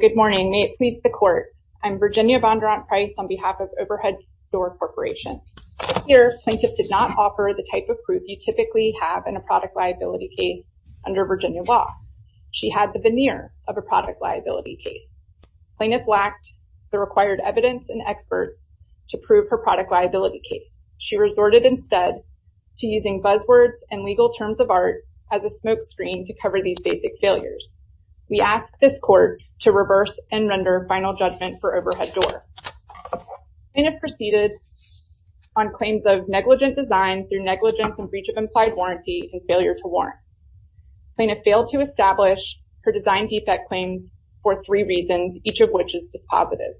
Good morning, may it please the court. I'm Virginia Bondurant Price on behalf of Overhead Door Corporation. Here, plaintiff did not offer the type of proof you typically have in a product liability case under Virginia law. She had the veneer of a product liability case. Plaintiff lacked the required evidence and experts to prove her product liability case. She resorted instead to using buzzwords and legal terms of art as a smokescreen to reverse and render final judgment for Overhead Door. Plaintiff proceeded on claims of negligent design through negligence and breach of implied warranty and failure to warrant. Plaintiff failed to establish her design defect claims for three reasons, each of which is dispositive.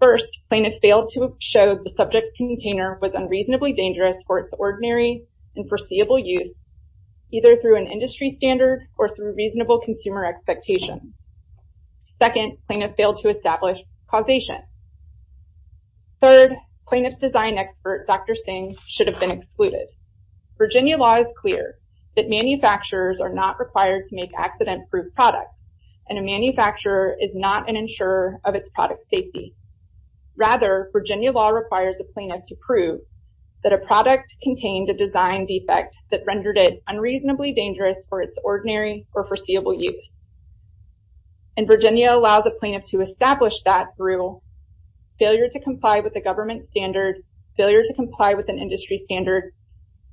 First, plaintiff failed to show the subject container was unreasonably dangerous for its ordinary and foreseeable use, either through an industry standard or through reasonable consumer expectations. Second, plaintiff failed to establish causation. Third, plaintiff's design expert, Dr. Singh, should have been excluded. Virginia law is clear that manufacturers are not required to make accident-proof products and a manufacturer is not an insurer of its product safety. Rather, Virginia law requires a plaintiff to prove that a product contained a design defect that rendered it unreasonably dangerous for its ordinary or foreseeable use. And Virginia allows a plaintiff to establish that through failure to comply with the government standard, failure to comply with an industry standard,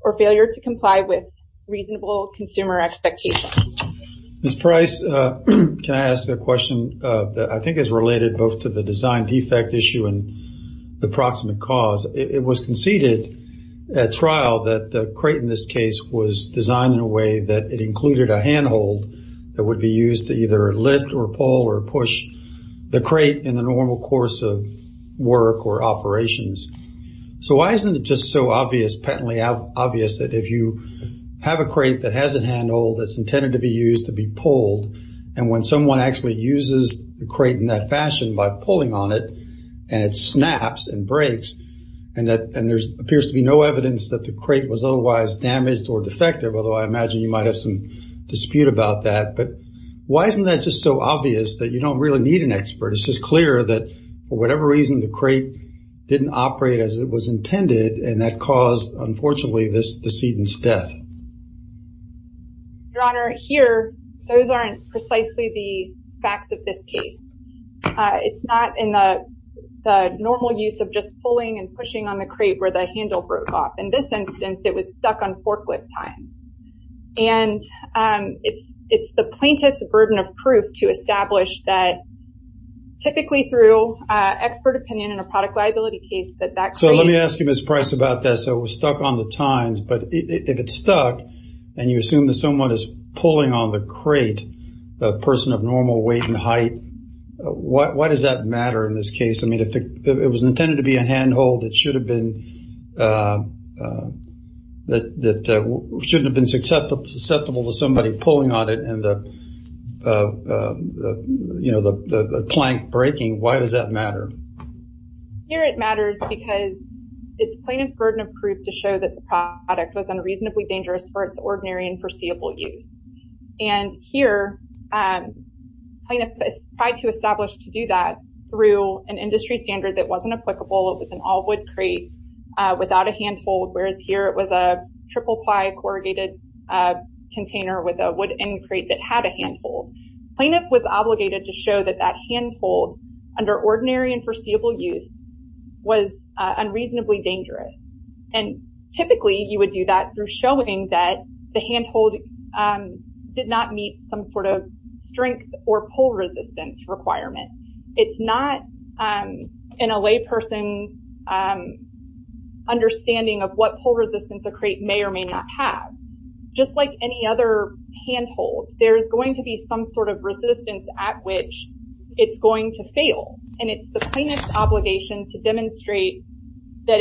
or failure to comply with reasonable consumer expectations. Mr. Price, can I ask a question that I think is related both to the design defect issue and the proximate cause? It was conceded at trial that the crate in this case was designed in a way that it included a handhold that would be used to either lift or pull or push the crate in the normal course of work or operations. So why isn't it just so obvious, patently obvious, that if you have a crate that has a handhold that's intended to be used to be pulled, and when someone actually uses the crate in that fashion by pulling on it, and it snaps and breaks, and there appears to be no evidence that the crate was otherwise damaged or defective, although I imagine you might have some dispute about that, but why isn't that just so obvious that you don't really need an expert? It's just clear that for whatever reason, the crate didn't operate as it was intended, and that Your Honor, here, those aren't precisely the facts of this case. It's not in the normal use of just pulling and pushing on the crate where the handle broke off. In this instance, it was stuck on forklift tines, and it's the plaintiff's burden of proof to establish that typically through expert opinion in a product liability case that that crate... and you assume that someone is pulling on the crate, a person of normal weight and height, why does that matter in this case? I mean, if it was intended to be a handhold that shouldn't have been susceptible to somebody pulling on it and the plank breaking, why does that matter? Here, it matters because it's plaintiff's burden of proof to show that the product was unreasonably dangerous for its ordinary and foreseeable use. Here, plaintiff tried to establish to do that through an industry standard that wasn't applicable. It was an all wood crate without a handhold, whereas here it was a triple ply corrugated container with a wood end crate that had a handhold. Plaintiff was obligated to show that that handhold under ordinary and through showing that the handhold did not meet some sort of strength or pull resistance requirement. It's not in a layperson's understanding of what pull resistance a crate may or may not have. Just like any other handhold, there's going to be some sort of resistance at which it's going to fail. It's the plaintiff's obligation to demonstrate that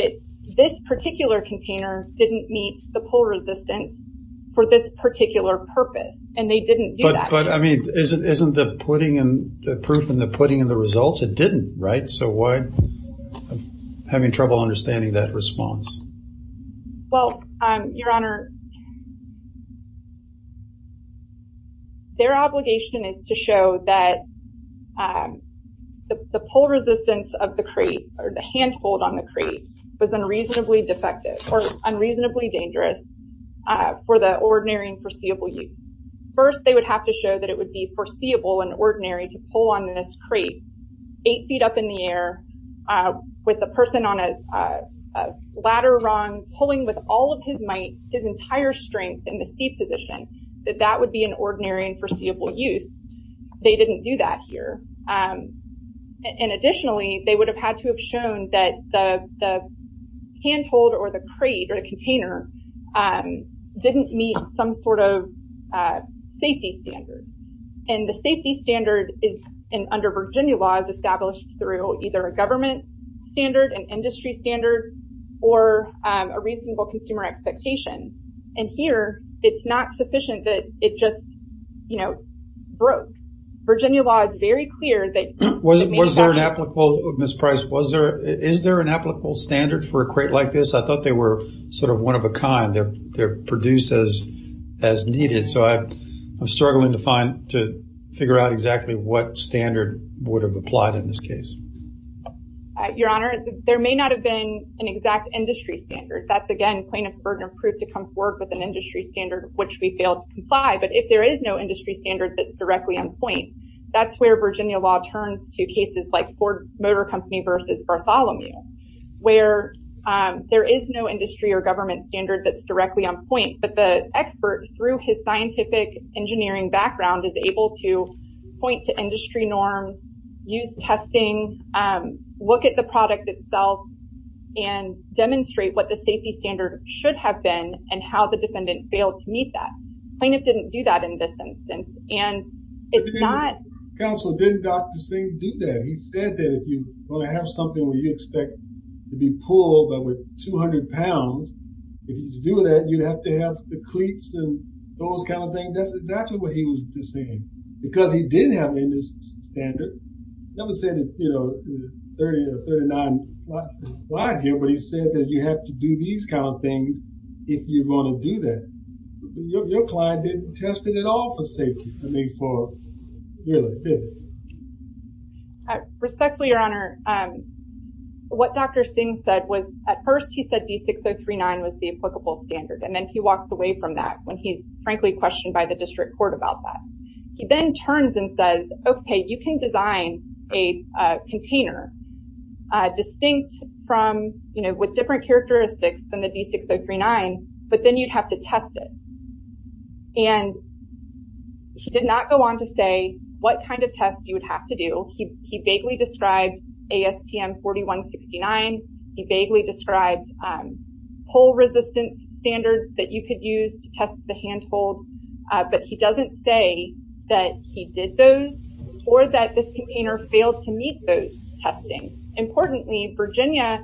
this particular container didn't meet the pull resistance for this particular purpose and they didn't do that. But isn't the proof in the pudding in the results? It didn't, right? I'm having trouble understanding that response. Well, Your Honor, their obligation is to show that the pull resistance of the crate or the handhold on the crate was unreasonably defective or unreasonably dangerous for the ordinary and foreseeable use. First, they would have to show that it would be foreseeable and ordinary to pull on this crate eight feet up in the air with a person on a ladder rung pulling with all of his might, his entire strength in the C position, that that would be an ordinary and foreseeable use. They didn't do that here. Additionally, they would have had to have shown that the handhold or the crate or the container didn't meet some sort of safety standard. The safety standard under Virginia law is established through either a government standard, an industry standard, or a reasonable consumer expectation. Here, it's not sufficient that it just broke. Virginia law is very clear that- Was there an applicable, Ms. Price, is there an applicable standard for a crate like this? I thought they were sort of one of a kind. They're produced as needed. So, I'm struggling to find, to figure out exactly what standard would have applied in this case. Your Honor, there may not have been an exact industry standard. That's, again, plaintiff's burden of proof to come forward with an industry standard, which we failed to comply. But if there is no industry standard that's directly on point, that's where Virginia law turns to cases like Motor Company versus Bartholomew, where there is no industry or government standard that's directly on point. But the expert, through his scientific engineering background, is able to point to industry norms, use testing, look at the product itself, and demonstrate what the safety standard should have been and how the defendant failed to meet that. Plaintiff didn't do that in this instance. And it's not- But the counsel didn't, Dr. Singh, do that. He said that if you want to have something where you expect to be pulled over 200 pounds, if you do that, you'd have to have the cleats and those kind of things. That's exactly what he was just saying. Because he didn't have an industry standard. Never said, you know, 30 or 39 wide here, but he said that you have to do these kind of things if you're going to do that. Your client didn't test it at all for safety. I mean, for really. Respectfully, your honor, what Dr. Singh said was, at first, he said D6039 was the applicable standard. And then he walks away from that when he's, frankly, questioned by the district court about that. He then turns and says, okay, you can design a container distinct from, you know, with different characteristics than the D6039, but then you'd have to test it. And he did not go on to say what kind of test you would have to do. He vaguely described ASTM 4169. He vaguely described pull resistance standards that you could use to test the handhold, but he doesn't say that he did those or that this container failed to meet those testing. Importantly, Virginia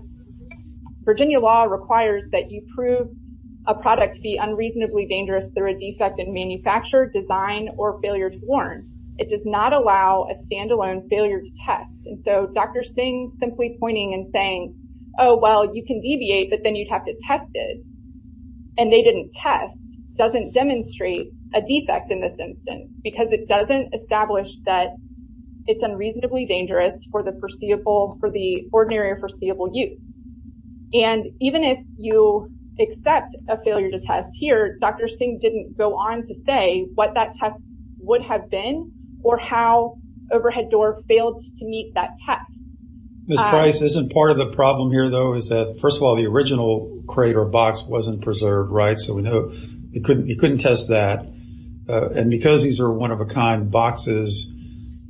law requires that you prove a product to be unreasonably dangerous through a defect in manufacture, design, or failure to warrant. It does not allow a standalone failure to test. And so, Dr. Singh simply pointing and saying, oh, well, you can deviate, but then you'd have to test it, and they didn't test, doesn't demonstrate a defect in this instance, because it doesn't establish that it's unreasonably dangerous for the ordinary or foreseeable use. And even if you accept a failure to test here, Dr. Singh didn't go on to say what that test would have been or how overhead door failed to meet that test. Ms. Price, isn't part of the problem here, though, is that first of all, the original crate or box wasn't preserved, right? So we know you couldn't test that. And because these are one of a kind boxes, maybe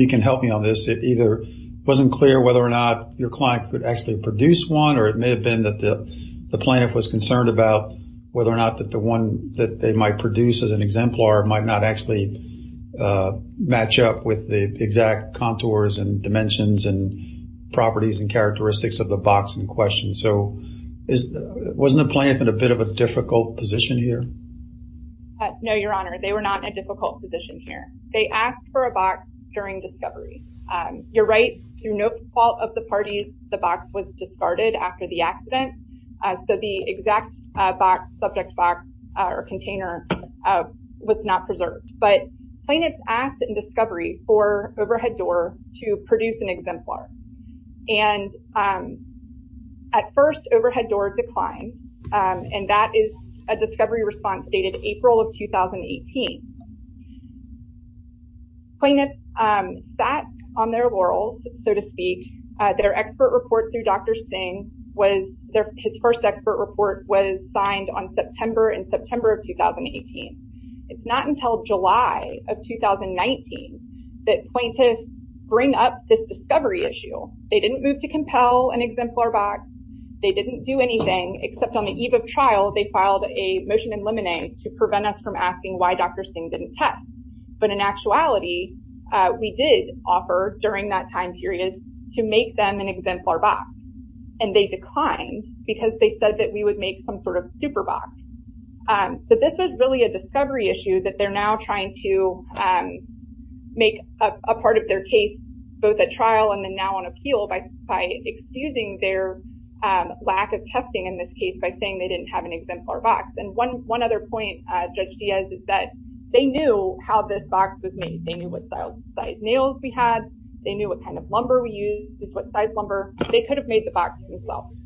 you can help me on this. It either wasn't clear whether or not your client could actually produce one, or it may have been that the plaintiff was concerned about whether or not that the one that they might produce as an exemplar might not actually match up with the exact contours and dimensions and properties and characteristics of the box in question. So wasn't the plaintiff in a bit of a difficult position here? No, Your Honor, they were not in a difficult position here. They asked for a box during discovery. You're right, through no fault of the parties, the box was discarded after the accident. So the exact box, subject box or container was not preserved. But plaintiffs asked in discovery for overhead door to produce an exemplar. And at first, overhead door declined. And that is a discovery response dated April of 2018. Plaintiffs sat on their laurels, so to speak. Their expert report through Dr. Singh was, his first expert report was signed on September and September of 2018. It's not until July of 2019 that plaintiffs bring up this discovery issue. They didn't move to compel an exemplar box. They didn't do anything except on the eve of trial, they filed a motion in limine to prevent us from asking why Dr. Singh didn't test. But in actuality, we did offer during that time period to make them an exemplar box. And they declined because they said that we would make some sort of super box. So this was really a discovery issue that they're now trying to make a part of their case, both at trial and then now on appeal by excusing their lack of testing in this case by saying they didn't have an exemplar box. And one other point Judge Diaz is that they knew how this box was made. They knew what size nails we had. They knew what kind of lumber we used, what size lumber. They could have made the box themselves.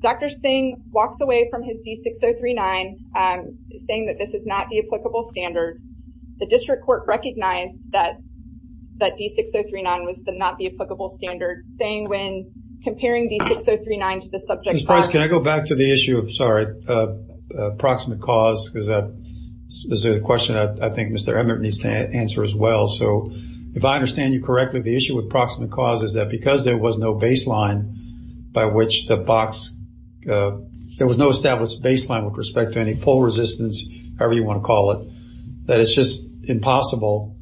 Dr. Singh walks away from his D-6039 saying that this is not the applicable standard. The district court recognized that that D-6039 was not the applicable standard, saying when comparing D-6039 to the subject- This is a question I think Mr. Emmert needs to answer as well. So if I understand you correctly, the issue with proximate cause is that because there was no baseline by which the box, there was no established baseline with respect to any pull resistance, however you want to call it, that it's just impossible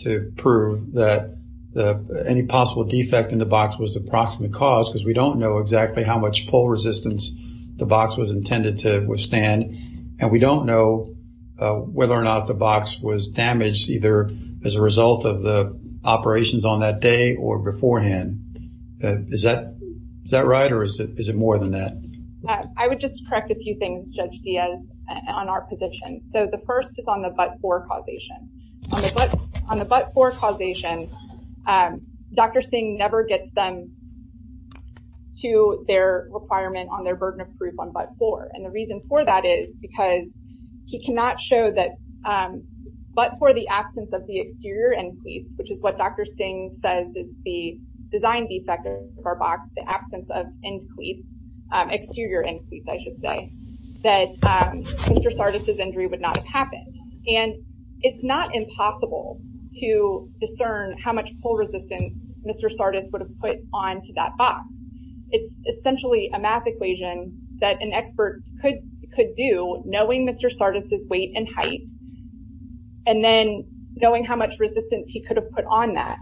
to prove that any possible defect in the box was the proximate cause because we don't know exactly how much pull resistance the box was intended to withstand. And we don't know whether or not the box was damaged either as a result of the operations on that day or beforehand. Is that right or is it more than that? I would just correct a few things Judge Diaz on our position. So the first is on the but-for causation. On the but-for causation, Dr. Singh never gets them to their requirement on their burden of proof on but-for. And the reason for that is because he cannot show that but-for the absence of the exterior end cleat, which is what Dr. Singh says is the design defect of our box, the absence of end cleat, exterior end cleat, I should say, that Mr. Sardis' injury would not have happened. And it's not impossible to discern how much pull resistance Mr. Sardis would have put onto that box. It's essentially a math equation that an expert could do knowing Mr. Sardis' weight and height and then knowing how much resistance he could have put on that.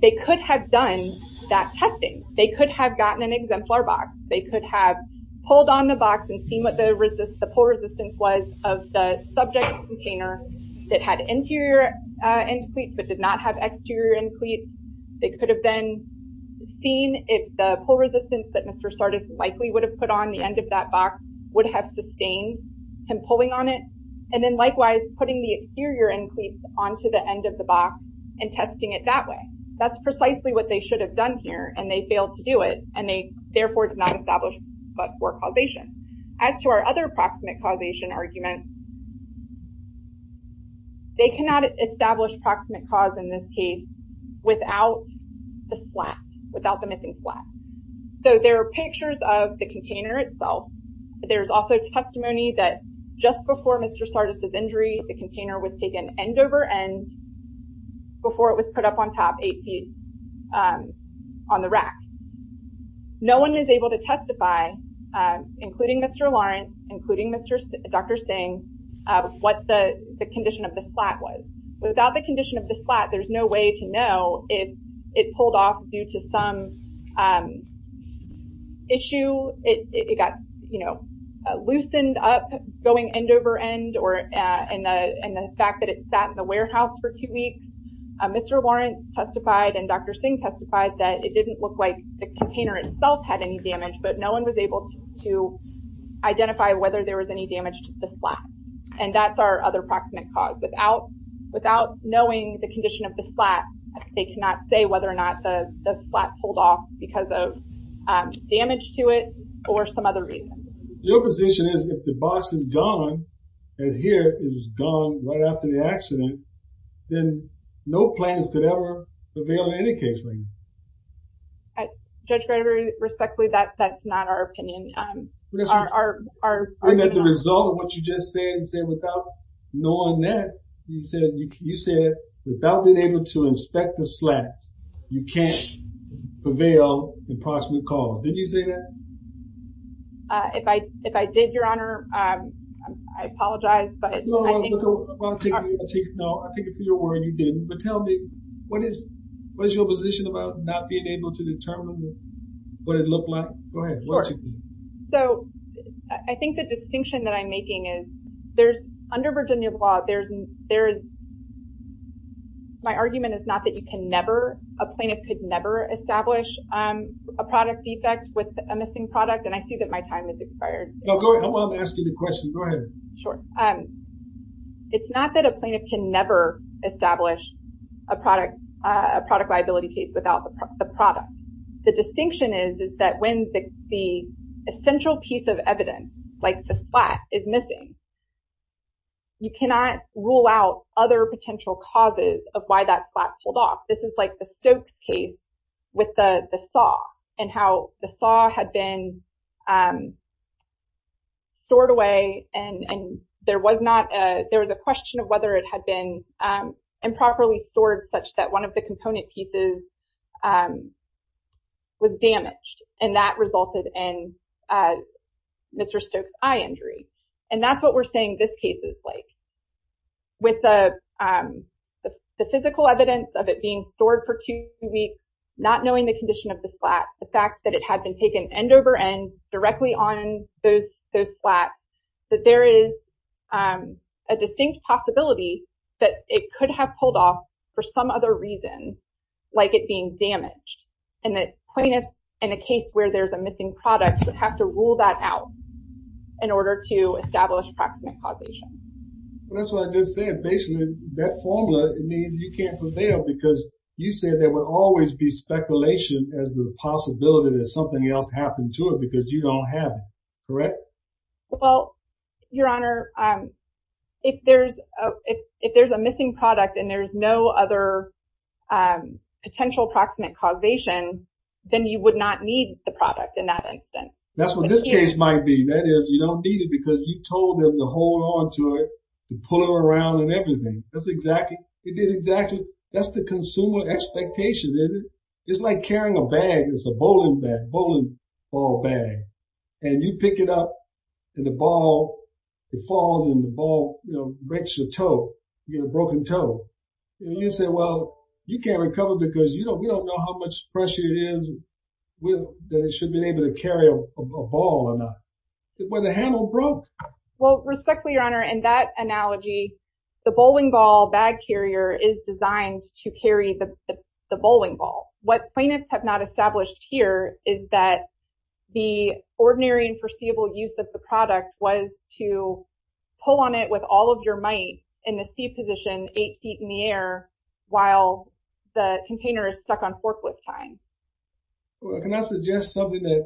They could have done that testing. They could have gotten an exemplar box. They could have pulled on the box and seen what the pull resistance was of the subject container that had interior end cleats but did not have exterior end cleats. They could have then seen if the pull resistance that Mr. Sardis likely would have put on the end of that box would have sustained him pulling on it and then likewise putting the exterior end cleats onto the end of the box and testing it that way. That's precisely what they should have done here and they failed to do it and they therefore did not establish but-for causation. As to our other proximate causation argument, they cannot establish proximate cause in this case without the splat, without the missing splat. So there are pictures of the container itself. There's also testimony that just before Mr. Sardis' injury the container was taken end over end before it was put up on top eight feet on the rack. No one is able to testify, including Mr. Lawrence, including Dr. Singh, what the condition of the splat was. Without the condition of the splat, there's no way to know if it pulled off due to some issue. It got loosened up going end over end and the fact that it sat in the warehouse for two weeks. Mr. Lawrence testified and Dr. Singh testified that it didn't look like the container itself had any damage but no one was able to identify whether there was any damage to the knowing the condition of the splat. They cannot say whether or not the splat pulled off because of damage to it or some other reason. Your position is if the box is gone, as here, it was gone right after the accident, then no plaintiff could ever prevail in any case. Judge Gregory, respectfully, that's not our opinion. That's the result of what you just said. You said without knowing that, you said without being able to inspect the splat, you can't prevail the proximate cause. Did you say that? If I did, your honor, I apologize. No, I take it for your word you didn't. But tell me, what is your position about not being able to determine what it looked like? Go ahead. So, I think the distinction that I'm making is there's, under Virginia law, there's, my argument is not that you can never, a plaintiff could never establish a product defect with a missing product and I see that my time has expired. No, go ahead. I'm asking the question. Go ahead. Sure. It's not that a plaintiff can never establish a product liability case without the product. The distinction is that when the essential piece of evidence, like the splat, is missing, you cannot rule out other potential causes of why that splat pulled off. This is like the Stokes case with the saw and how the saw had been stored away and there was a question of whether it had been improperly stored such that one of the component pieces was damaged and that resulted in Mr. Stokes eye injury. And that's what we're saying this case is like. With the physical evidence of it being stored for two weeks, not knowing the condition of the splat, the fact that it had been taken end over end directly on those splats, that there is a distinct possibility that it could have pulled off for some other reason, like it being damaged. And that plaintiffs, in a case where there's a missing product, would have to rule that out in order to establish proximate causation. Well, that's what I just said. Basically, that formula, I mean, you can't prevail because you said there would always be speculation as the possibility that something else happened to it because you don't have it, correct? Well, Your Honor, if there's a missing product and there's no other potential proximate causation, then you would not need the product in that instance. That's what this case might be. That is, you don't need it because you told them to hold on to it, to pull it around and everything. That's the consumer expectation, isn't it? It's like carrying a bag. It's a bowling ball bag. And you pick it up and the ball, it falls and the ball breaks your toe. You get a broken toe. And you say, well, you can't recover because you don't know how much pressure it is that it should be able to carry a ball or not. Well, the handle broke. Well, respectfully, Your Honor, in that analogy, the bowling ball bag carrier is designed to carry the bowling ball. What plaintiffs have not established here is that the ordinary and foreseeable use of the product was to pull on it with all of your might in the seat position, eight feet in the air, while the container is stuck on forklift time. Well, can I suggest something that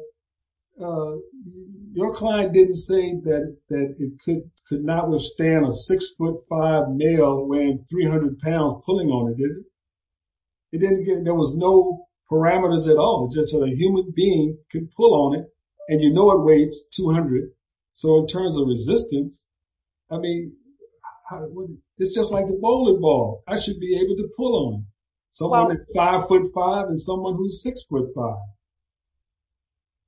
your client didn't say that it could not withstand a six foot five male weighing 300 pounds pulling on it, did it? There was no parameters at all, just a human being could pull on it. And you know it weighs 200. So in terms of resistance, I mean, it's just like the bowling ball. I should be able to pull on it. Someone at five foot five and someone who's six foot five.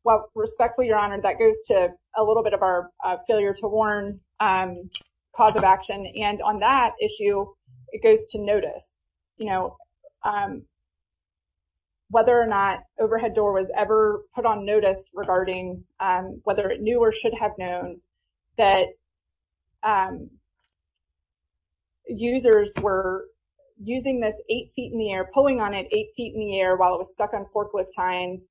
Well, respectfully, Your Honor, that goes to a little bit of our failure to warn cause of action. And on that issue, it goes to notice, whether or not overhead door was ever put on notice regarding whether it knew or should have known that users were using this eight feet in the air, pulling on it eight feet in the air while it was stuck on forklift time.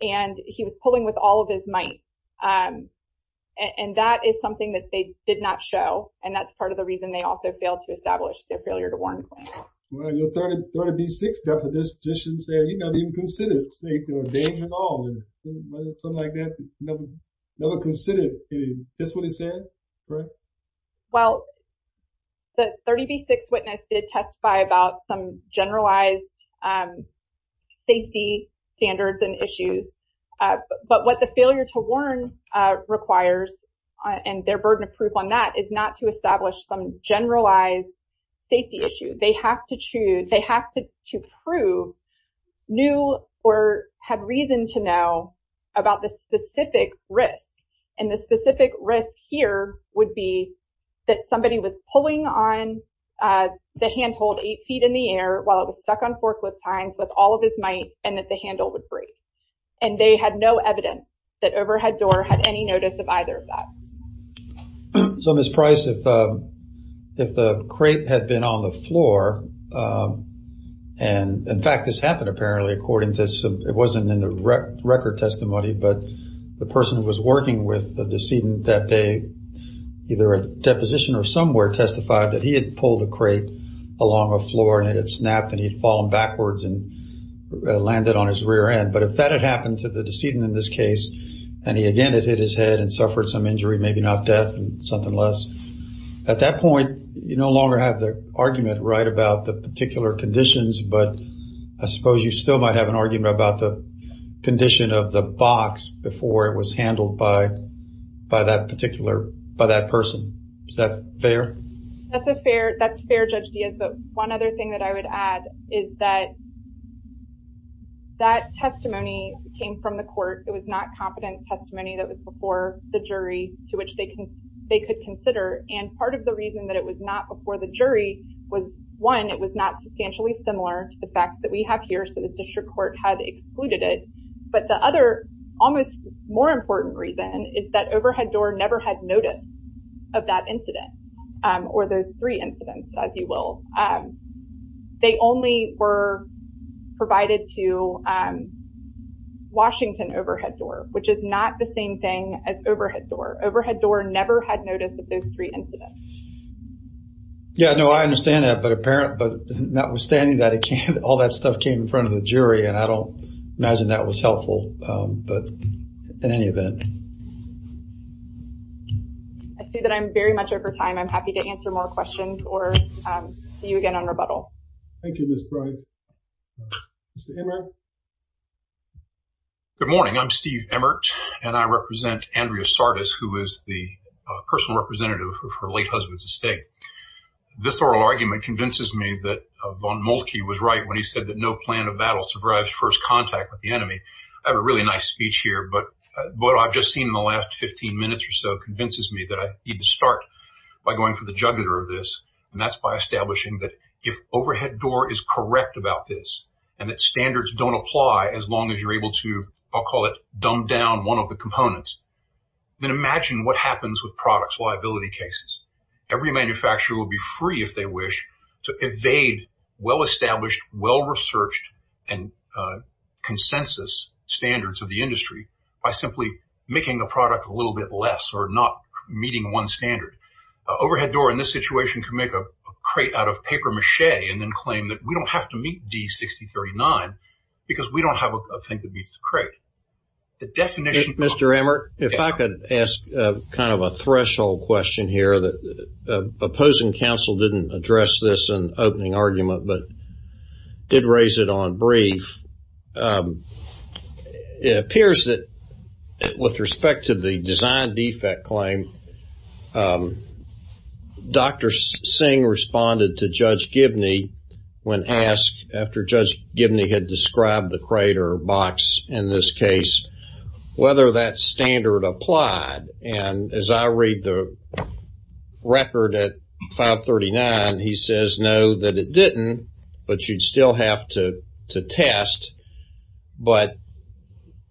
And he was pulling with all of his might. And that is something that they did not show. And that's part of the reason they also failed to establish their failure to warn claim. Well, your 36th deputy just didn't say, you know, he didn't consider it safe or right. Well, the 36th witness did testify about some generalized safety standards and issues. But what the failure to warn requires and their burden of proof on that is not to establish some generalized safety issue. They have to choose. They have to prove new or had reason to know about the specific risk. And the specific risk here would be that somebody was pulling on the handhold eight feet in the air while it was stuck on forklift times with all of his might and that the handle would break. And they had no evidence that overhead door had any notice of either of that. So, Ms. Price, if the crate had been on the floor, and in fact, this happened but the person who was working with the decedent that day, either a deposition or somewhere testified that he had pulled a crate along a floor and it snapped and he'd fallen backwards and landed on his rear end. But if that had happened to the decedent in this case, and he again had hit his head and suffered some injury, maybe not death and something less. At that point, you no longer have the argument right about the particular conditions. But I suppose you still might have an argument about the condition of the box before it was handled by that person. Is that fair? That's fair, Judge Diaz. But one other thing that I would add is that that testimony came from the court. It was not competent testimony that was before the jury to which they could consider. And part of the reason that it was not before the jury was one, it was not substantially similar to the fact that we have here. So, the district court had excluded it. But the other almost more important reason is that overhead door never had notice of that incident or those three incidents, as you will. They only were provided to Washington overhead door, which is not the same thing as overhead door. Overhead door never had notice of those three incidents. Yeah, no, I understand that. But apparent, but notwithstanding that, all that stuff came in front of the jury. And I don't imagine that was helpful. But in any event. I see that I'm very much over time. I'm happy to answer more questions or see you again on rebuttal. Thank you, Ms. Price. Mr. Emert. Good morning. I'm Steve Emert and I represent Andrea Sardis, who is the personal representative of her late husband's estate. This oral argument convinces me that von Moltke was right when he said that no plan of battle survives first contact with the enemy. I have a really nice speech here, but what I've just seen in the last 15 minutes or so convinces me that I need to start by going for the juggernaut of this. And that's by establishing that if overhead door is correct about this, and that standards don't apply as long as you're able to, I'll call it dumbed down one of the components. Then imagine what happens with products liability cases. Every manufacturer will be free if they wish to evade well-established, well-researched and consensus standards of the industry by simply making the product a little bit less or not meeting one standard. Overhead door in this situation can make a crate out of paper mache and then claim that we don't have to D6039 because we don't have a thing that beats the crate. The definition... Mr. Emert, if I could ask kind of a threshold question here that opposing counsel didn't address this in opening argument, but did raise it on brief. It appears that with respect to the design defect claim, Dr. Singh responded to Judge Gibney when asked after Judge Gibney had described the crate or box in this case, whether that standard applied. And as I read the record at 539, he says, no, that it didn't, but you'd still have to test, but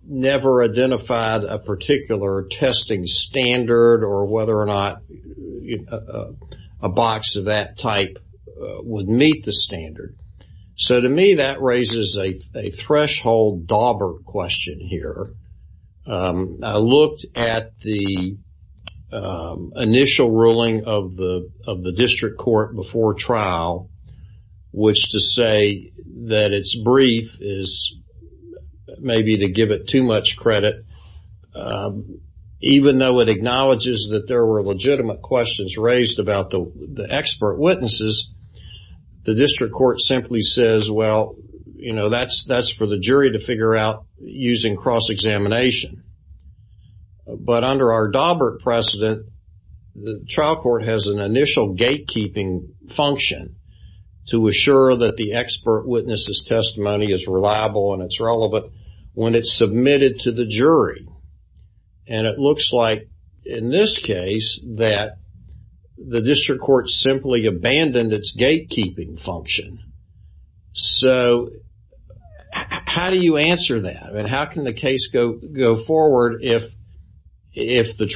never identified a particular testing standard or whether or not a box of that type would meet the standard. So to me, that raises a threshold dauber question here. I looked at the initial ruling of the district court before trial, which to say that it's brief is maybe to give it too much credit. Even though it acknowledges that there were legitimate questions raised about the expert witnesses, the district court simply says, well, you know, that's for the jury to figure out using cross-examination. But under our dauber precedent, the trial court has an initial gate to assure that the expert witnesses testimony is reliable and it's relevant when it's submitted to the jury. And it looks like in this case that the district court simply abandoned its gatekeeping function. So how do you answer that? And how can the case go forward if the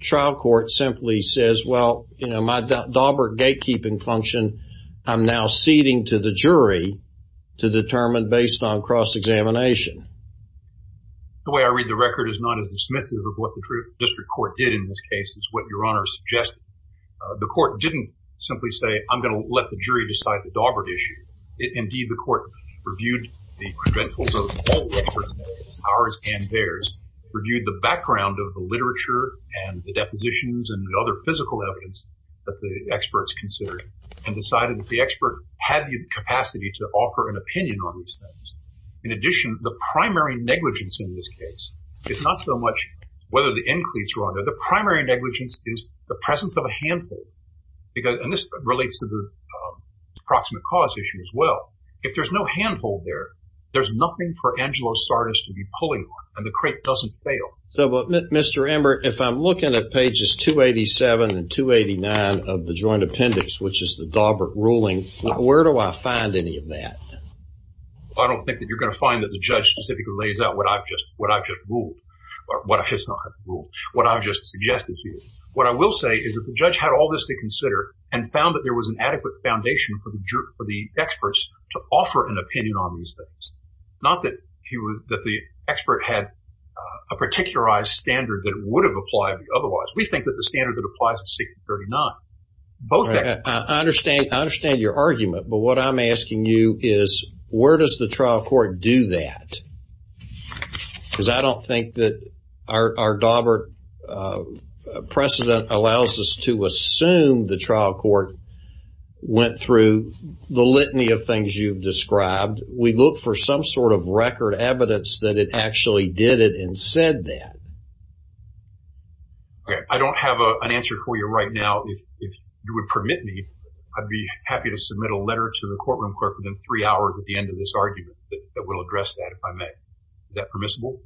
trial court simply says, well, you know, my dauber gatekeeping function, I'm now ceding to the jury to determine based on cross-examination? The way I read the record is not as dismissive of what the district court did in this case as what Your Honor suggested. The court didn't simply say, I'm going to let the jury decide the dauber issue. Indeed, the court reviewed the credentials of both experts, ours and theirs, reviewed the background of the literature and the depositions and the other physical evidence that the experts considered and decided that the expert had the capacity to offer an opinion on these things. In addition, the primary negligence in this case is not so much whether the includes were on there. The primary negligence is the presence of a handful because, and this relates to the proximate cause issue as well. If there's no handhold there, there's nothing for Angelo to do. Mr. Embert, if I'm looking at pages 287 and 289 of the joint appendix, which is the dauber ruling, where do I find any of that? I don't think that you're going to find that the judge specifically lays out what I've just ruled, what I've just suggested here. What I will say is that the judge had all this to consider and found that there was an adequate foundation for the experts to offer an opinion on these things. Not that the expert had a particularized standard that would have applied otherwise. We think that the standard that applies to section 39. I understand your argument, but what I'm asking you is where does the trial court do that? Because I don't think that our dauber precedent allows us to assume the trial court went through the litany of things you've described. We look for some sort of record evidence that it actually did it and said that. Okay, I don't have an answer for you right now. If you would permit me, I'd be happy to submit a letter to the courtroom clerk within three hours at the end of this argument that will address that if I may. Is that permissible?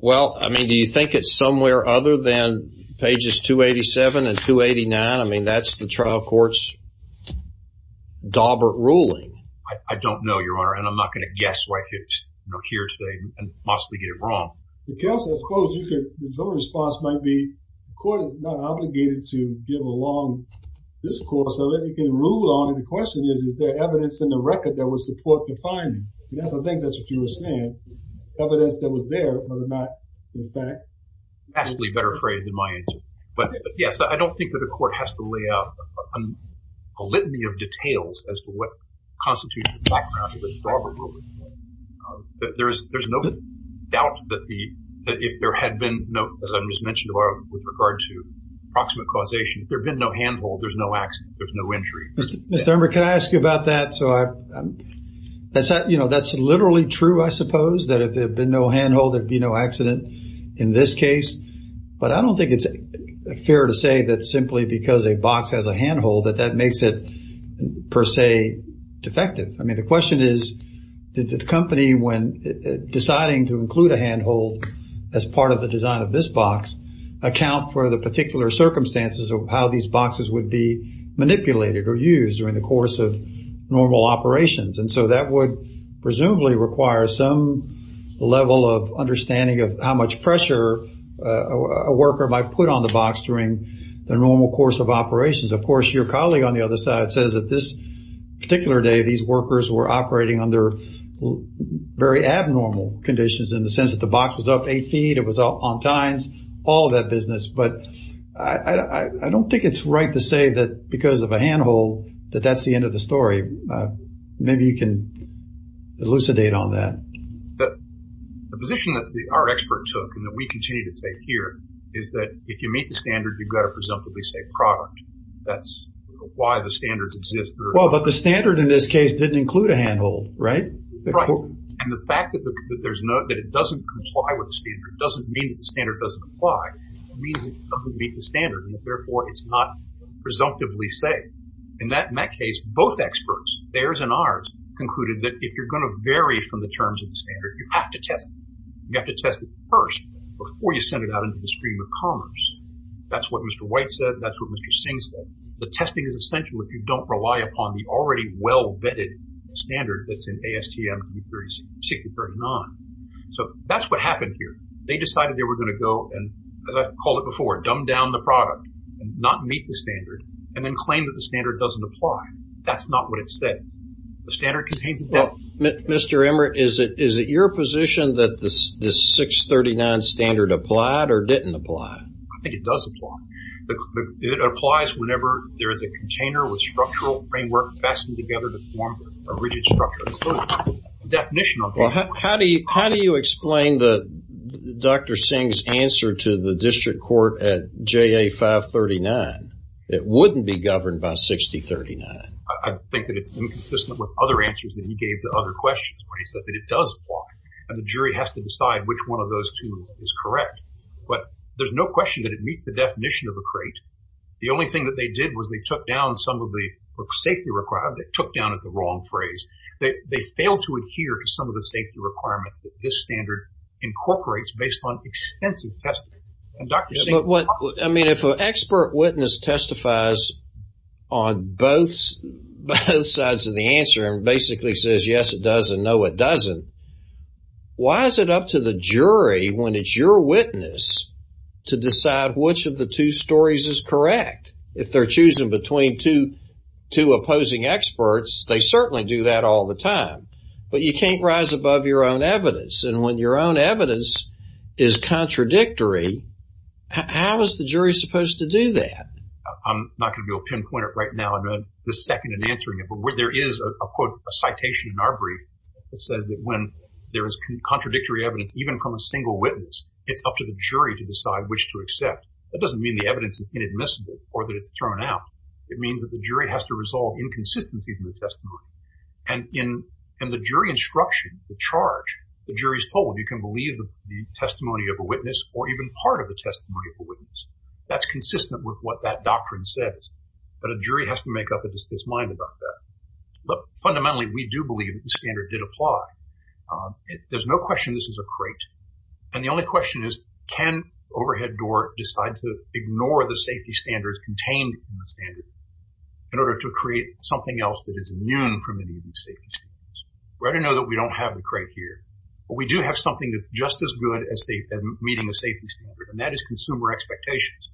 Well, I mean, do you think it's somewhere other than pages 287 and 289? I mean, that's the trial court's dauber ruling. I don't know, your honor, and I'm not going to guess right here today and possibly get it wrong. Counsel, I suppose your response might be the court is not obligated to give a long discourse so that you can rule on it. The question is, is there evidence in the record that would support the finding? I think that's what you were saying. Evidence that was there, but not the fact. Actually better phrased than my answer, but yes, I don't think that the court has to lay out a litany of details as to what constitutes the background of the dauber ruling. There's no doubt that if there had been no, as I just mentioned with regard to proximate causation, there'd been no handhold, there's no accident, there's no injury. Mr. Ember, can I ask you about that? So that's literally true, I suppose, that if there'd been no handhold, there'd be no accident in this case. But I don't think it's fair to say that simply because a box has a handhold that that makes it per se defective. I mean, the question is, did the company, when deciding to include a handhold as part of the design of this box, account for the particular circumstances of how these boxes would be manipulated or used during the course of normal operations? And so that would presumably require some level of understanding of much pressure a worker might put on the box during the normal course of operations. Of course, your colleague on the other side says that this particular day, these workers were operating under very abnormal conditions in the sense that the box was up eight feet, it was up on tines, all of that business. But I don't think it's right to say that because of a handhold, that that's the end of the story. Maybe you can elucidate on that. But the position that our experts took, and that we continue to take here, is that if you meet the standard, you've got a presumptively safe product. That's why the standards exist. Well, but the standard in this case didn't include a handhold, right? Right. And the fact that it doesn't comply with the standard doesn't mean that the standard doesn't apply. It means it doesn't meet the standard, and therefore it's not presumptively safe. In that case, both experts, theirs and ours, concluded that if you're going to vary from the terms of the standard, you have to test it. You have to test it first, before you send it out into the stream of commerce. That's what Mr. White said, that's what Mr. Singh said. The testing is essential if you don't rely upon the already well-vetted standard that's in ASTM 6039. So that's what happened here. They decided they were going to go and, as I called it before, dumb down the product and not meet the standard, and then claim that the standard doesn't apply. That's not what it said. The standard contains Mr. Emmert, is it your position that this 639 standard applied or didn't apply? I think it does apply. It applies whenever there is a container with structural framework fastened together to form a rigid structure. That's the definition of framework. How do you explain Dr. Singh's answer to the district court at JA 539? It wouldn't be governed by 6039. I think that it's inconsistent with other answers that he gave to other questions when he said that it does apply, and the jury has to decide which one of those two is correct. But there's no question that it meets the definition of a crate. The only thing that they did was they took down some of the safety requirements. They took down is the wrong phrase. They failed to adhere to some of the safety requirements that this standard incorporates based on extensive testing. If an expert witness testifies on both sides of the answer, and basically says yes it does and no it doesn't, why is it up to the jury when it's your witness to decide which of the two stories is correct? If they're choosing between two opposing experts, they certainly do that all the time. But you can't rise above your own evidence, and when your own evidence is contradictory, how is the jury supposed to do that? I'm not going to go pinpoint it right now in the second in answering it, but there is a quote, a citation in our brief that said that when there is contradictory evidence, even from a single witness, it's up to the jury to decide which to accept. That doesn't mean the evidence is inadmissible or that it's thrown out. It means that the jury has to resolve inconsistencies in the testimony. And in the jury instruction, the charge, the jury's told you can believe the testimony of a witness or even part of the testimony of a witness. That's consistent with what that doctrine says, but a jury has to make up its mind about that. But fundamentally, we do believe the standard did apply. There's no question this is a crate, and the only question is can overhead door decide to ignore the safety standards contained in the standard in order to create something else that is immune from any of these safety standards. We already know that we don't have the crate here, but we do have something that's just as good as meeting the safety standard, and that is consumer expectations.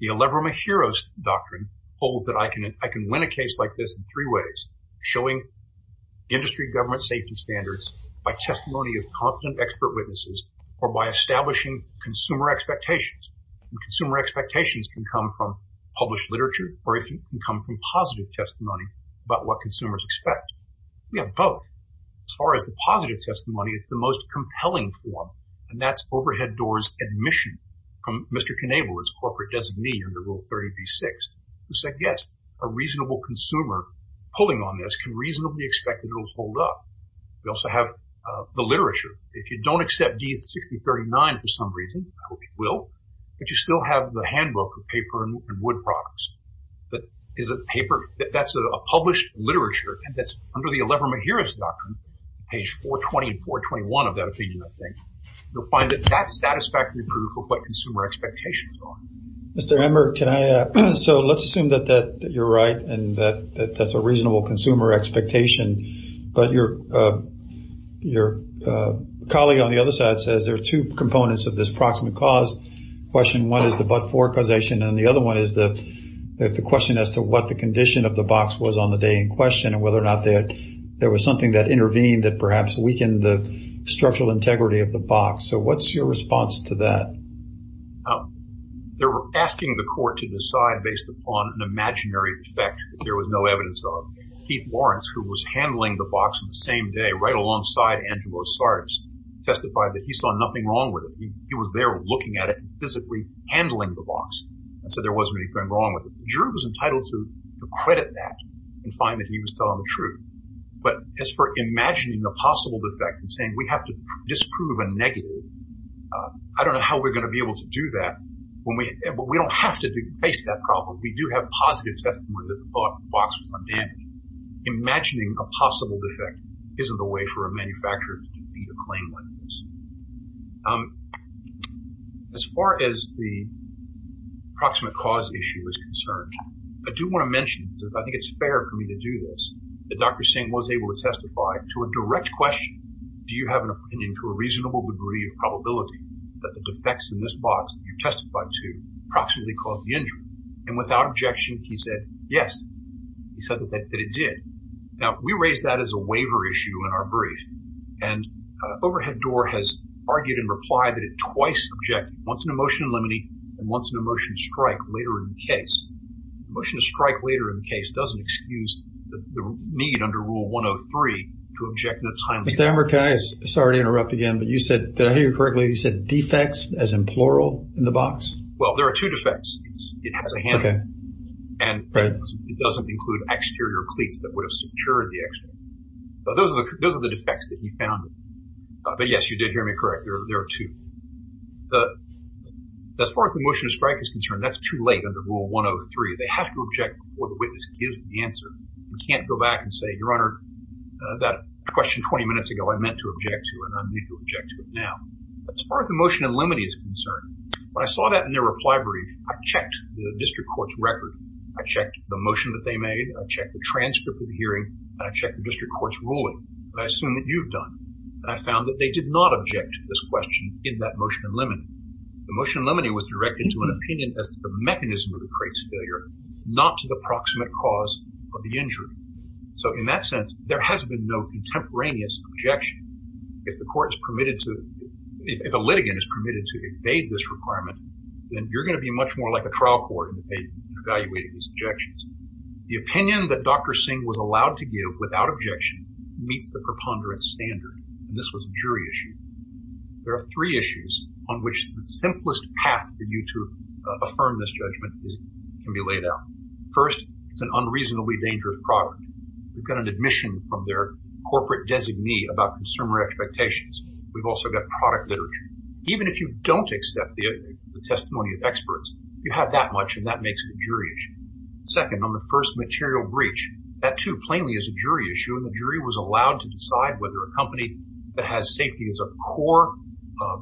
The Elever-Mahiros Doctrine holds that I can win a case like this in three ways, showing industry government safety standards by testimony of competent expert witnesses or by establishing consumer expectations. And consumer expectations can come from published literature or if you can come from positive testimony about what consumers expect. We have both. As far as the positive testimony, it's the most compelling form, and that's overhead doors admission from Mr. Knievel, his corporate designee under Rule 30b-6, who said, yes, a reasonable consumer pulling on this can reasonably expect that it'll hold up. We also have the literature. If you don't accept D6039 for some reason, I hope you will, but you still have the handbook of paper and wood products. But is it paper? That's a published literature, and that's under the Elever-Mahiros Doctrine, page 420 and 421 of that opinion, I think. You'll find that that's satisfactory proof of what consumer expectations are. Mr. Emmer, can I, so let's assume that you're right and that that's a reasonable consumer expectation, but your colleague on the other side says there are two components of this approximate cause. Question one is the but-for causation, and the other one is the question as to what the condition of the box was on the day in question and whether or not that there was something that intervened that perhaps weakened the structural integrity of the box. So what's your response to that? They're asking the court to decide based upon an imaginary effect that there was no evidence of. Keith Lawrence, who was handling the box the same day, right alongside Andrew Osardis, testified that he saw nothing wrong with it. He was there looking at it and physically handling the box and said there wasn't anything wrong with it. Drew was entitled to credit that and find that he was telling the truth. But as for imagining a possible defect and saying we have to disprove a negative, I don't know how we're going to be able to do that when we, but we don't have to face that problem. We do have positive testimony that the box was claimed like this. As far as the approximate cause issue is concerned, I do want to mention, I think it's fair for me to do this, that Dr. Singh was able to testify to a direct question. Do you have an opinion to a reasonable degree of probability that the defects in this box that you testified to approximately caused the injury? And without objection, he said yes. He raised that as a waiver issue in our brief. And Overhead Door has argued in reply that it twice objected, once in a motion in limine and once in a motion to strike later in the case. Motion to strike later in the case doesn't excuse the need under Rule 103 to object in a timely manner. Mr. Amber, can I, sorry to interrupt again, but you said, did I hear you correctly, you said defects as in plural in the box? Well, there are two defects. It has a handle. And it doesn't include exterior cleats that would have secured the exterior. But those are the defects that you found. But yes, you did hear me correct. There are two. As far as the motion to strike is concerned, that's too late under Rule 103. They have to object before the witness gives the answer. You can't go back and say, Your Honor, that question 20 minutes ago I meant to object to and I'm going to object to it now. As far as the motion in limine is concerned, when I saw that in their reply brief, I checked the court's record. I checked the motion that they made. I checked the transcript of the hearing. And I checked the district court's ruling. And I assume that you've done. And I found that they did not object to this question in that motion in limine. The motion in limine was directed to an opinion as to the mechanism of the crate's failure, not to the proximate cause of the injury. So in that sense, there has been no contemporaneous objection. If the court is permitted to, if a litigant is permitted to evade this requirement, then you're going to be much more like a trial court in evaluating these objections. The opinion that Dr. Singh was allowed to give without objection meets the preponderance standard. And this was a jury issue. There are three issues on which the simplest path for you to affirm this judgment can be laid out. First, it's an unreasonably dangerous product. We've got an admission from their corporate designee about consumer expectations. We've also got product literature. Even if you don't accept the testimony of experts, you have that much, and that makes it a jury issue. Second, on the first material breach, that too plainly is a jury issue. And the jury was allowed to decide whether a company that has safety as a core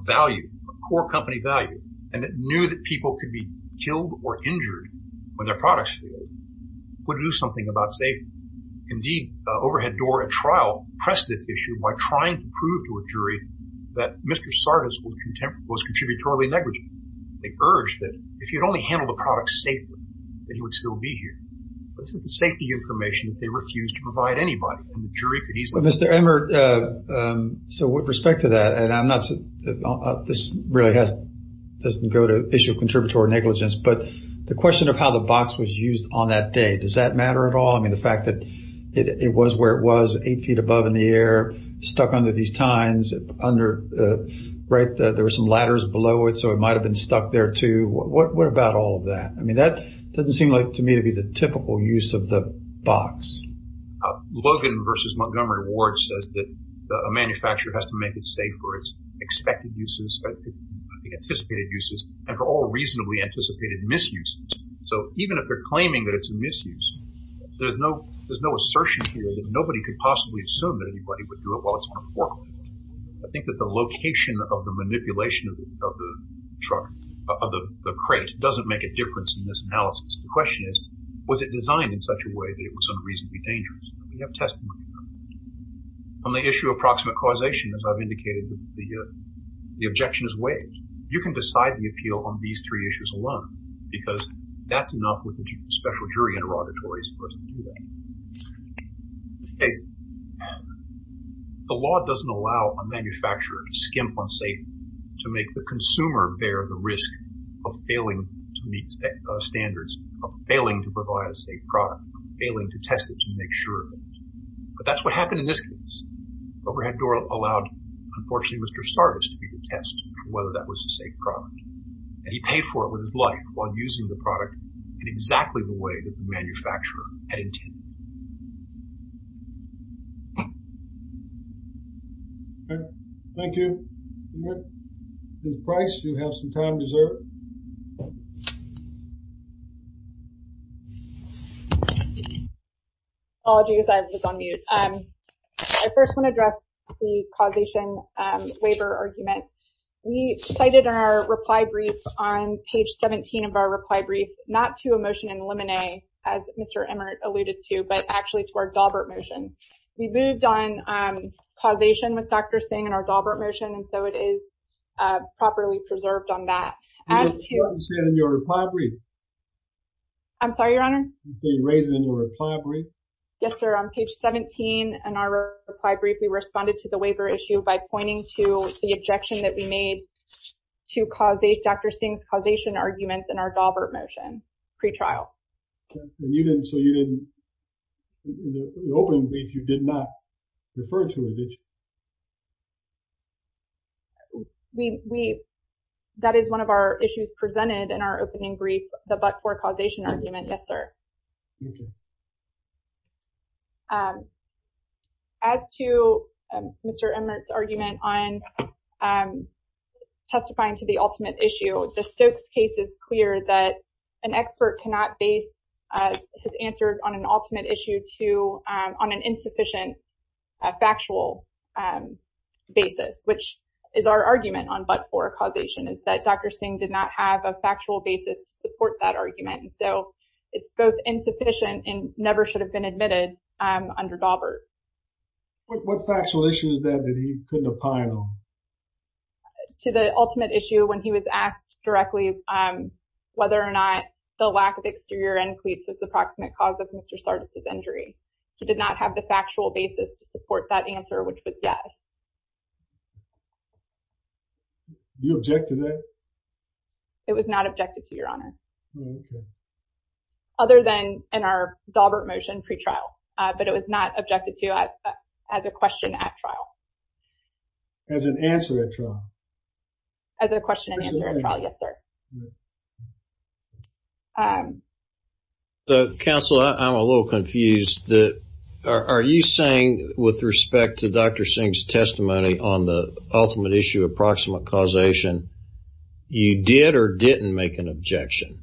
value, a core company value, and it knew that people could be killed or injured when their products failed, would do something about safety. Indeed, Overhead Door at trial pressed this issue by trying to prove to a jury that Mr. Sardis was contributorily negligent. They urged that if you'd only handled the product safely, that he would still be here. This is the safety information that they refused to provide anybody, and the jury could easily- Mr. Emmert, so with respect to that, and I'm not, this really doesn't go to the issue of contributory negligence, but the question of how the box was used on that day, does that matter at all? I mean, the fact that it was where it was, eight feet above in the air, stuck under these tines, under, right, there were some ladders below it, so it might have been stuck there too. What about all of that? I mean, that doesn't seem like to me to be the typical use of the box. Logan versus Montgomery Ward says that a manufacturer has to make it safe for its expected uses, anticipated uses, and for all reasonably anticipated misuses. So even if they're claiming that it's a misuse, there's no assertion here that nobody could possibly assume that anybody would do it while it's on a forklift. I think that the location of the manipulation of the truck, of the crate, doesn't make a difference in this analysis. The question is, was it designed in such a way that it was unreasonably dangerous? We have testimony of that. On the issue of proximate causation, as I've indicated, the objection is waived. You can decide the appeal on these three issues alone, because that's enough with a special jury interrogatory. The law doesn't allow a manufacturer to skimp on safety, to make the consumer bear the risk of failing to meet standards, of failing to provide a safe product, failing to test it to make sure of it. But that's what happened in this case. Overhead Door allowed, unfortunately, Mr. Sardis to be the test for whether that was a safe product, and he paid for it with life while using the product in exactly the way that the manufacturer had intended. Okay, thank you. Ms. Price, you have some time deserved. Apologies, I was on mute. I first want to address the causation waiver argument. We cited in our reply brief, on page 17 of our reply brief, not to a motion in Lemonet, as Mr. Emmert alluded to, but actually to our Daubert motion. We moved on causation with Dr. Singh in our Daubert motion, and so it is properly preserved on that. You raised it in your reply brief? I'm sorry, your honor? You raised it in your reply brief? Yes, sir. On page 17 in our reply brief, we responded to the waiver issue by pointing to the objection that we made to Dr. Singh's causation arguments in our Daubert motion, pre-trial. So you didn't, in the opening brief, you did not refer to it, did you? That is one of our issues presented in our opening brief, the but-for causation argument, yes, sir. Thank you. As to Mr. Emmert's argument on testifying to the ultimate issue, the Stokes case is clear that an expert cannot base his answers on an ultimate issue on an insufficient factual basis, which is our argument on but-for causation, is that Dr. Singh did not have a factual basis to support that answer, which was yes. Did you object to that? It was not objected to, your honor. All right, good. Other than the fact that Dr. Singh did not have a factual basis to support in our Daubert motion pre-trial, but it was not objected to as a question at trial. As an answer at trial? As a question and answer at trial, yes, sir. So, counsel, I'm a little confused. Are you saying, with respect to Dr. Singh's testimony on the ultimate issue, approximate causation, you did or didn't make an objection?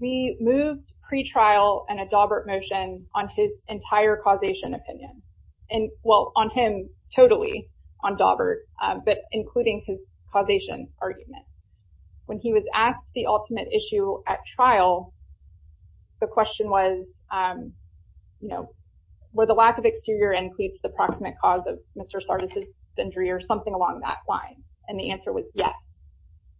We moved pre-trial and a Daubert motion on his entire causation opinion, and, well, on him totally on Daubert, but including his causation argument. When he was asked the ultimate issue at trial, the question was, you know, were the lack of exterior includes the proximate cause of Mr. Sardis' injury or something along that line, and the answer was yes.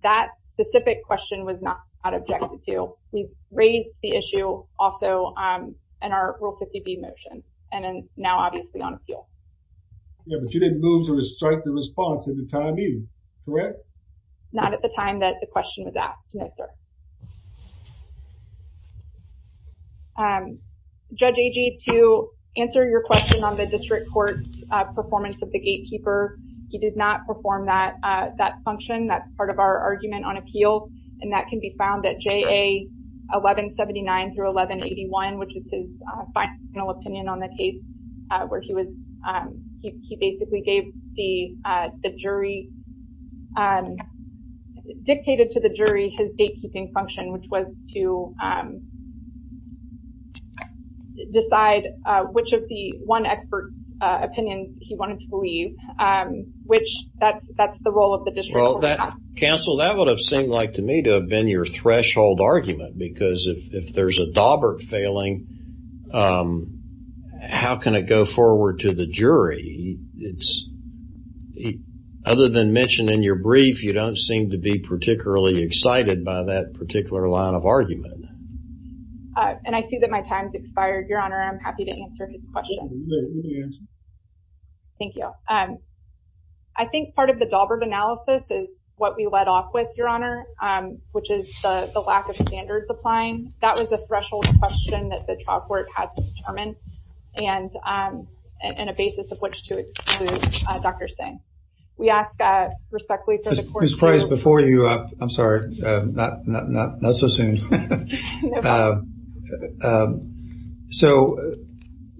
That specific question was not objected to. We've raised the issue also in our Rule 50B motion and now, obviously, on appeal. Yeah, but you didn't move to strike the response at the time either, correct? Not at the time that the question was asked, no, sir. Judge Agee, to answer your question on the district court's performance of the gatekeeper, he did not perform that function. That's part of our argument on appeal, and that can be found at JA 1179 through 1181, which is his final opinion on the case where he basically dictated to the jury his gatekeeping function, which was to decide which of the one expert's opinions he wanted to leave, which that's the role of the district court. Counsel, that would have seemed like to me to have been your threshold argument because if there's a Daubert failing, how can it go forward to the jury? Other than mentioned in your brief, you don't seem to be particularly excited by that particular line of argument. And I see that my time's expired, Your Honor. I'm happy to answer his question. Thank you. I think part of the Daubert analysis is what we led off with, Your Honor, which is the lack of standards applying. That was a threshold question that the trial court had to determine and a basis of which to exclude Dr. Singh. We ask respectfully for the court- I was surprised before you, I'm sorry, not so soon. So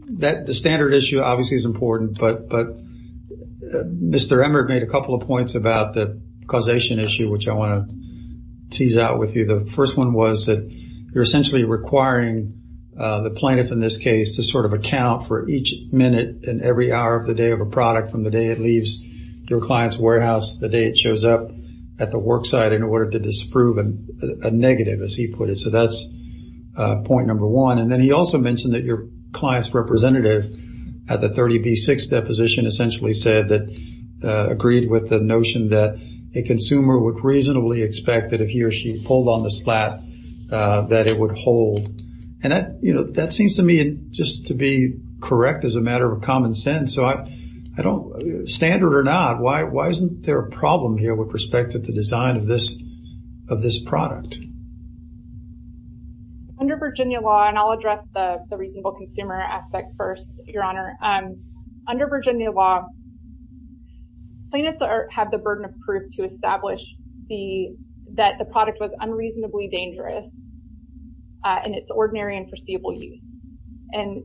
the standard issue obviously is important, but Mr. Emmer made a couple of points about the causation issue, which I want to tease out with you. The first one was that you're essentially requiring the plaintiff in this case to sort of account for each minute and every hour of the day of a product from the day it leaves your client's warehouse to the day it shows up at the worksite in order to disprove a negative, as he put it. So that's point number one. And then he also mentioned that your client's representative at the 30B6 deposition essentially said that- agreed with the notion that a consumer would reasonably expect that if he or she pulled on the slap that it would hold. And that seems to me just to be correct as a matter of common sense. So I don't- standard or not, why isn't there a problem here with respect to the design of this product? Under Virginia law, and I'll address the reasonable consumer aspect first, Your Honor. Under Virginia law, plaintiffs have the burden of proof to establish that the product was unreasonably dangerous in its ordinary and foreseeable use. And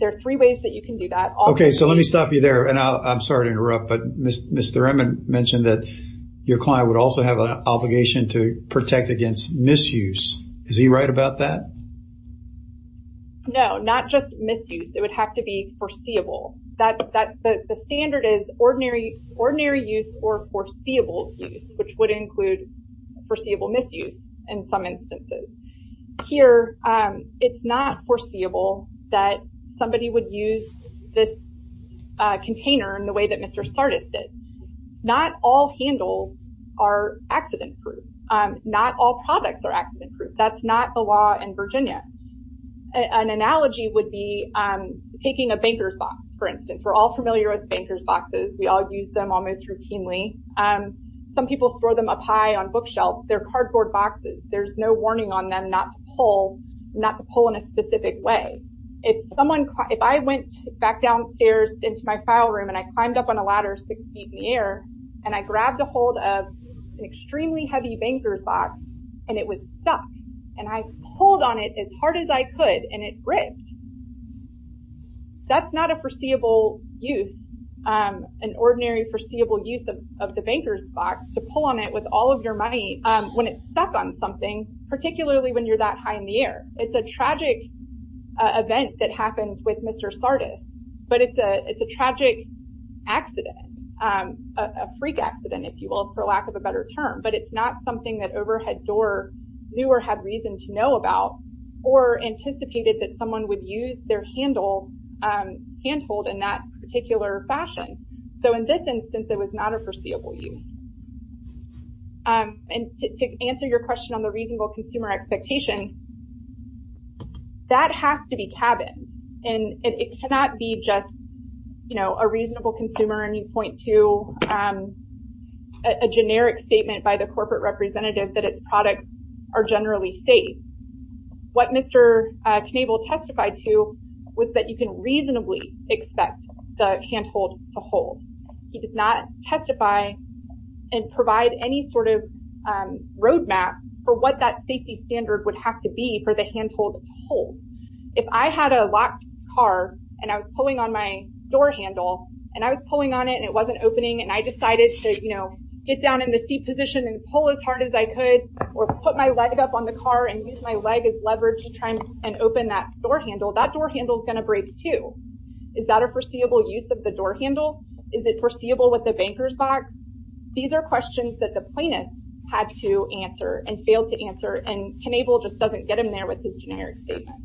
there are three ways that you can do that. Okay, so let me stop you there. And I'm sorry to interrupt, but Mr. Emmett mentioned that your client would also have an obligation to protect against misuse. Is he right about that? No, not just misuse. It would have to be foreseeable. The standard is ordinary ordinary use or foreseeable use, which would include foreseeable misuse in some instances. Here, it's not foreseeable that somebody would use this container in the way that Mr. Sardis did. Not all handles are accident proof. Not all products are accident proof. That's not the law in Virginia. An analogy would be taking a banker's box, for instance. We're all familiar with banker's boxes. We all use them almost routinely. Some people throw them up high on bookshelves. They're not to pull in a specific way. If I went back downstairs into my file room and I climbed up on a ladder six feet in the air, and I grabbed a hold of an extremely heavy banker's box, and it was stuck, and I pulled on it as hard as I could, and it ripped. That's not a foreseeable use, an ordinary foreseeable use of the banker's box to pull on it with all of your money when it's that high in the air. It's a tragic event that happened with Mr. Sardis, but it's a tragic accident, a freak accident, if you will, for lack of a better term. But it's not something that overhead door knew or had reason to know about or anticipated that someone would use their handhold in that particular fashion. So, in this instance, it was not a foreseeable use. And to answer your question on the reasonable consumer expectation, that has to be cabin. And it cannot be just a reasonable consumer, and you point to a generic statement by the corporate representative that its products are generally safe. What Mr. Knabel testified to was that you can reasonably expect the handhold to hold. He did not testify and provide any sort of roadmap for what that safety standard would have to be for the handhold to hold. If I had a locked car, and I was pulling on my door handle, and I was pulling on it, and it wasn't opening, and I decided to get down in the seat position and pull as hard as I could or put my leg up on the car and use my leg as leverage to try and open that door handle, that door handle is going to break too. Is that a foreseeable use of the door handle? Is it foreseeable with the banker's box? These are questions that the plaintiff had to answer and failed to answer, and Knabel just doesn't get them there with his generic statement.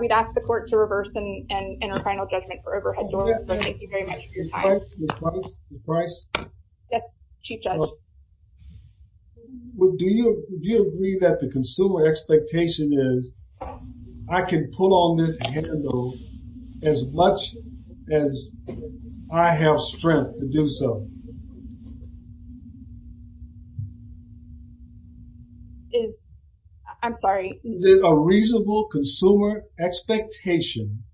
We've asked the court to reverse and enter final judgment for overhead doors. Thank you very much for your time. Ms. Price, Ms. Price, Ms. Price. Yes, Chief Judge. Do you agree that the consumer expectation is, I can pull on this handle as much as I have strength to do so? Is, I'm sorry. Is it a reasonable consumer expectation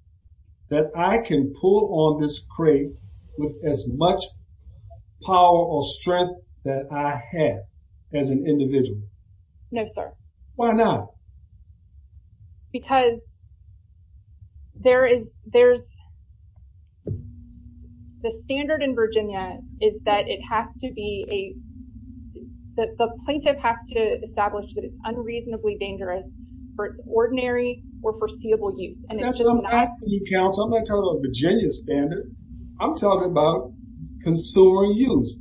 that I can pull on this crate with as much power or strength that I have as an individual? No, sir. Why not? Because there is, there's, the standard in Virginia is that it has to be a, that the plaintiff has to establish that it's unreasonably dangerous for its ordinary or foreseeable use. That's what I'm asking you, counsel. I'm not talking about Virginia's standard. I'm talking about consumer use.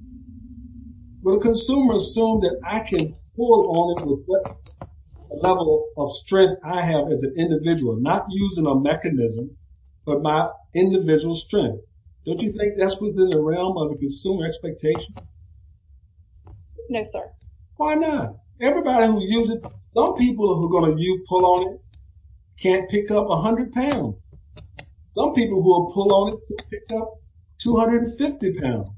Will the consumer assume that I can pull on it with what level of strength I have as an individual, not using a mechanism, but my individual strength? Don't you think that's within the realm of the consumer expectation? No, sir. Why not? Everybody who uses, some people who are going to use, pull on it, can't pick up a hundred pounds. Some people who will pull on it can pick up 250 pounds.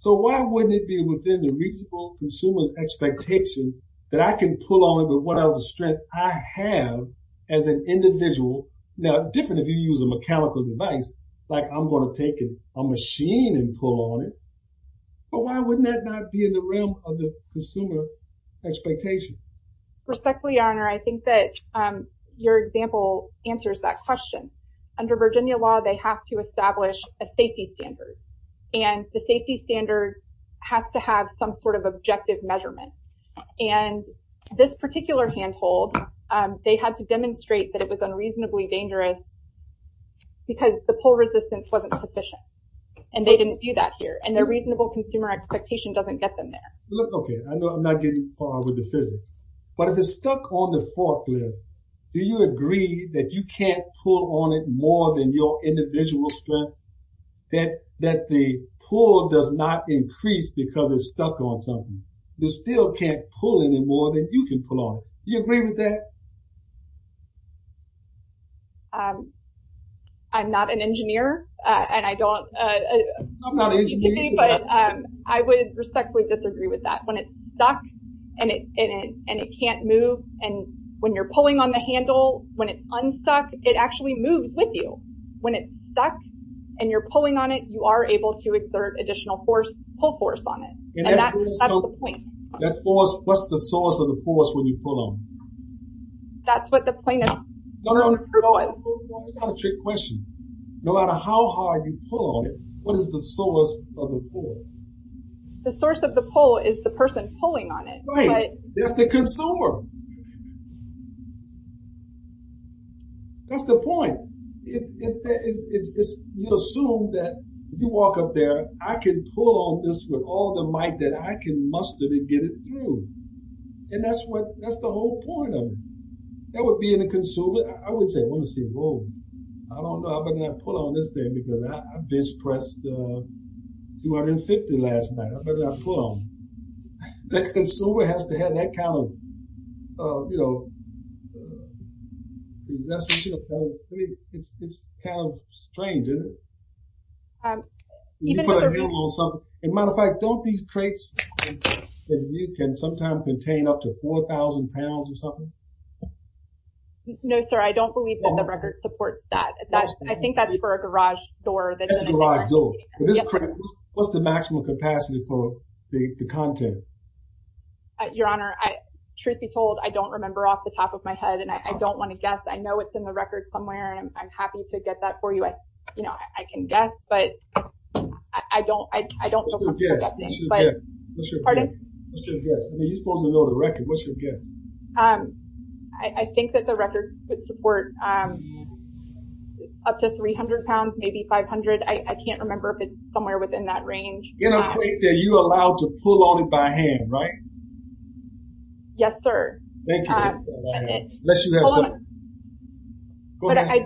So why wouldn't it be within the reasonable consumer's expectation that I can pull on it with whatever strength I have as an individual? Now, different if you use a mechanical device, like I'm going to take a machine and pull on it, but why wouldn't that not be in the realm of the consumer expectation? Respectfully, Your Honor, I think that your example answers that question. Under Virginia law, they have to establish a safety standard and the safety standard has to have some sort of objective measurement. And this particular handhold, they had to demonstrate that it was unreasonably dangerous because the pull resistance wasn't sufficient. And they didn't do that here. And their reasonable consumer expectation doesn't get them there. Okay. I know I'm not getting far with the physics. But if it's stuck on the forklift, do you agree that you can't pull on it more than your individual strength? That the pull does not increase because it's stuck on something. You still can't pull any more than you can pull on it. Do you agree with that? I'm not an engineer, and I don't... I'm not an engineer either. But I would respectfully disagree with that. When it's stuck and it can't move, and when you're pulling on the handle, when it's unstuck, it actually moves with you. When it's stuck and you're pulling on it, you are able to exert additional pull force on it. And that's the point. That force... What's the source of the force when you pull on it? That's what the point of... That's not a trick question. No matter how hard you pull on it, what is the source of the pull? The source of the pull is the person pulling on it. Right. That's the consumer. That's the point. You assume that if you walk up there, I can pull on this with all the might that I can muster to get it through. And that's what... That's the whole point of it. That would be in a consumer... I would say, well, let's see, whoa. I don't know how many I pulled on this thing because I bench pressed 250 last night. How many did I pull on? The consumer has to have that kind of, you know... It's kind of strange, isn't it? Matter of fact, don't these crates that you can sometimes contain up to 4,000 pounds or something? No, sir, I don't believe that the record supports that. I think that's for a garage door. That's a garage door. What's the maximum capacity for the content? Your Honor, truth be told, I don't remember off the top of my head and I don't want to guess. I know it's in the record somewhere and I'm happy to get that for you. You know, I can guess, but I don't... What's your guess? Pardon? What's your guess? I mean, you're supposed to know the record. What's your guess? I think that the record would support up to 300 pounds, maybe 500. I can't remember if it's somewhere within that range. You know, are you allowed to pull on it by hand, right? Yes, sir. Thank you. Go ahead.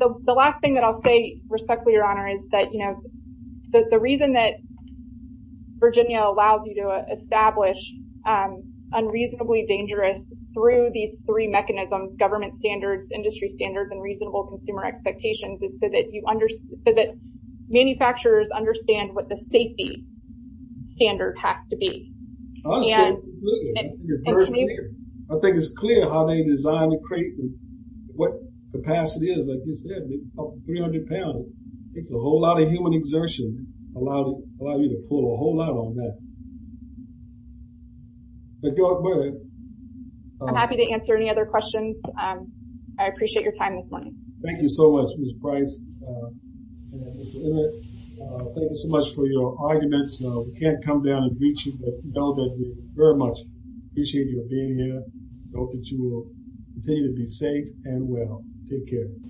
The last thing that I'll say, respectfully, Your Honor, is that the reason that Virginia allows you to establish unreasonably dangerous through these three mechanisms, government standards, industry standards, and reasonable consumer expectations, is so that manufacturers understand what the safety standard has to be. I think it's clear how they designed the crate and what capacity is. Like you said, 300 pounds. It's a whole lot of human exertion allowed you to pull a whole lot on that. Thank you all for that. I'm happy to answer any other questions. I appreciate your time this morning. Thank you so much, Ms. Price and Mr. Emmett. Thank you so much for your arguments. We can't come down and beat you, but we know that you very much appreciate your being here. I hope that you will continue to be safe and well. Take care.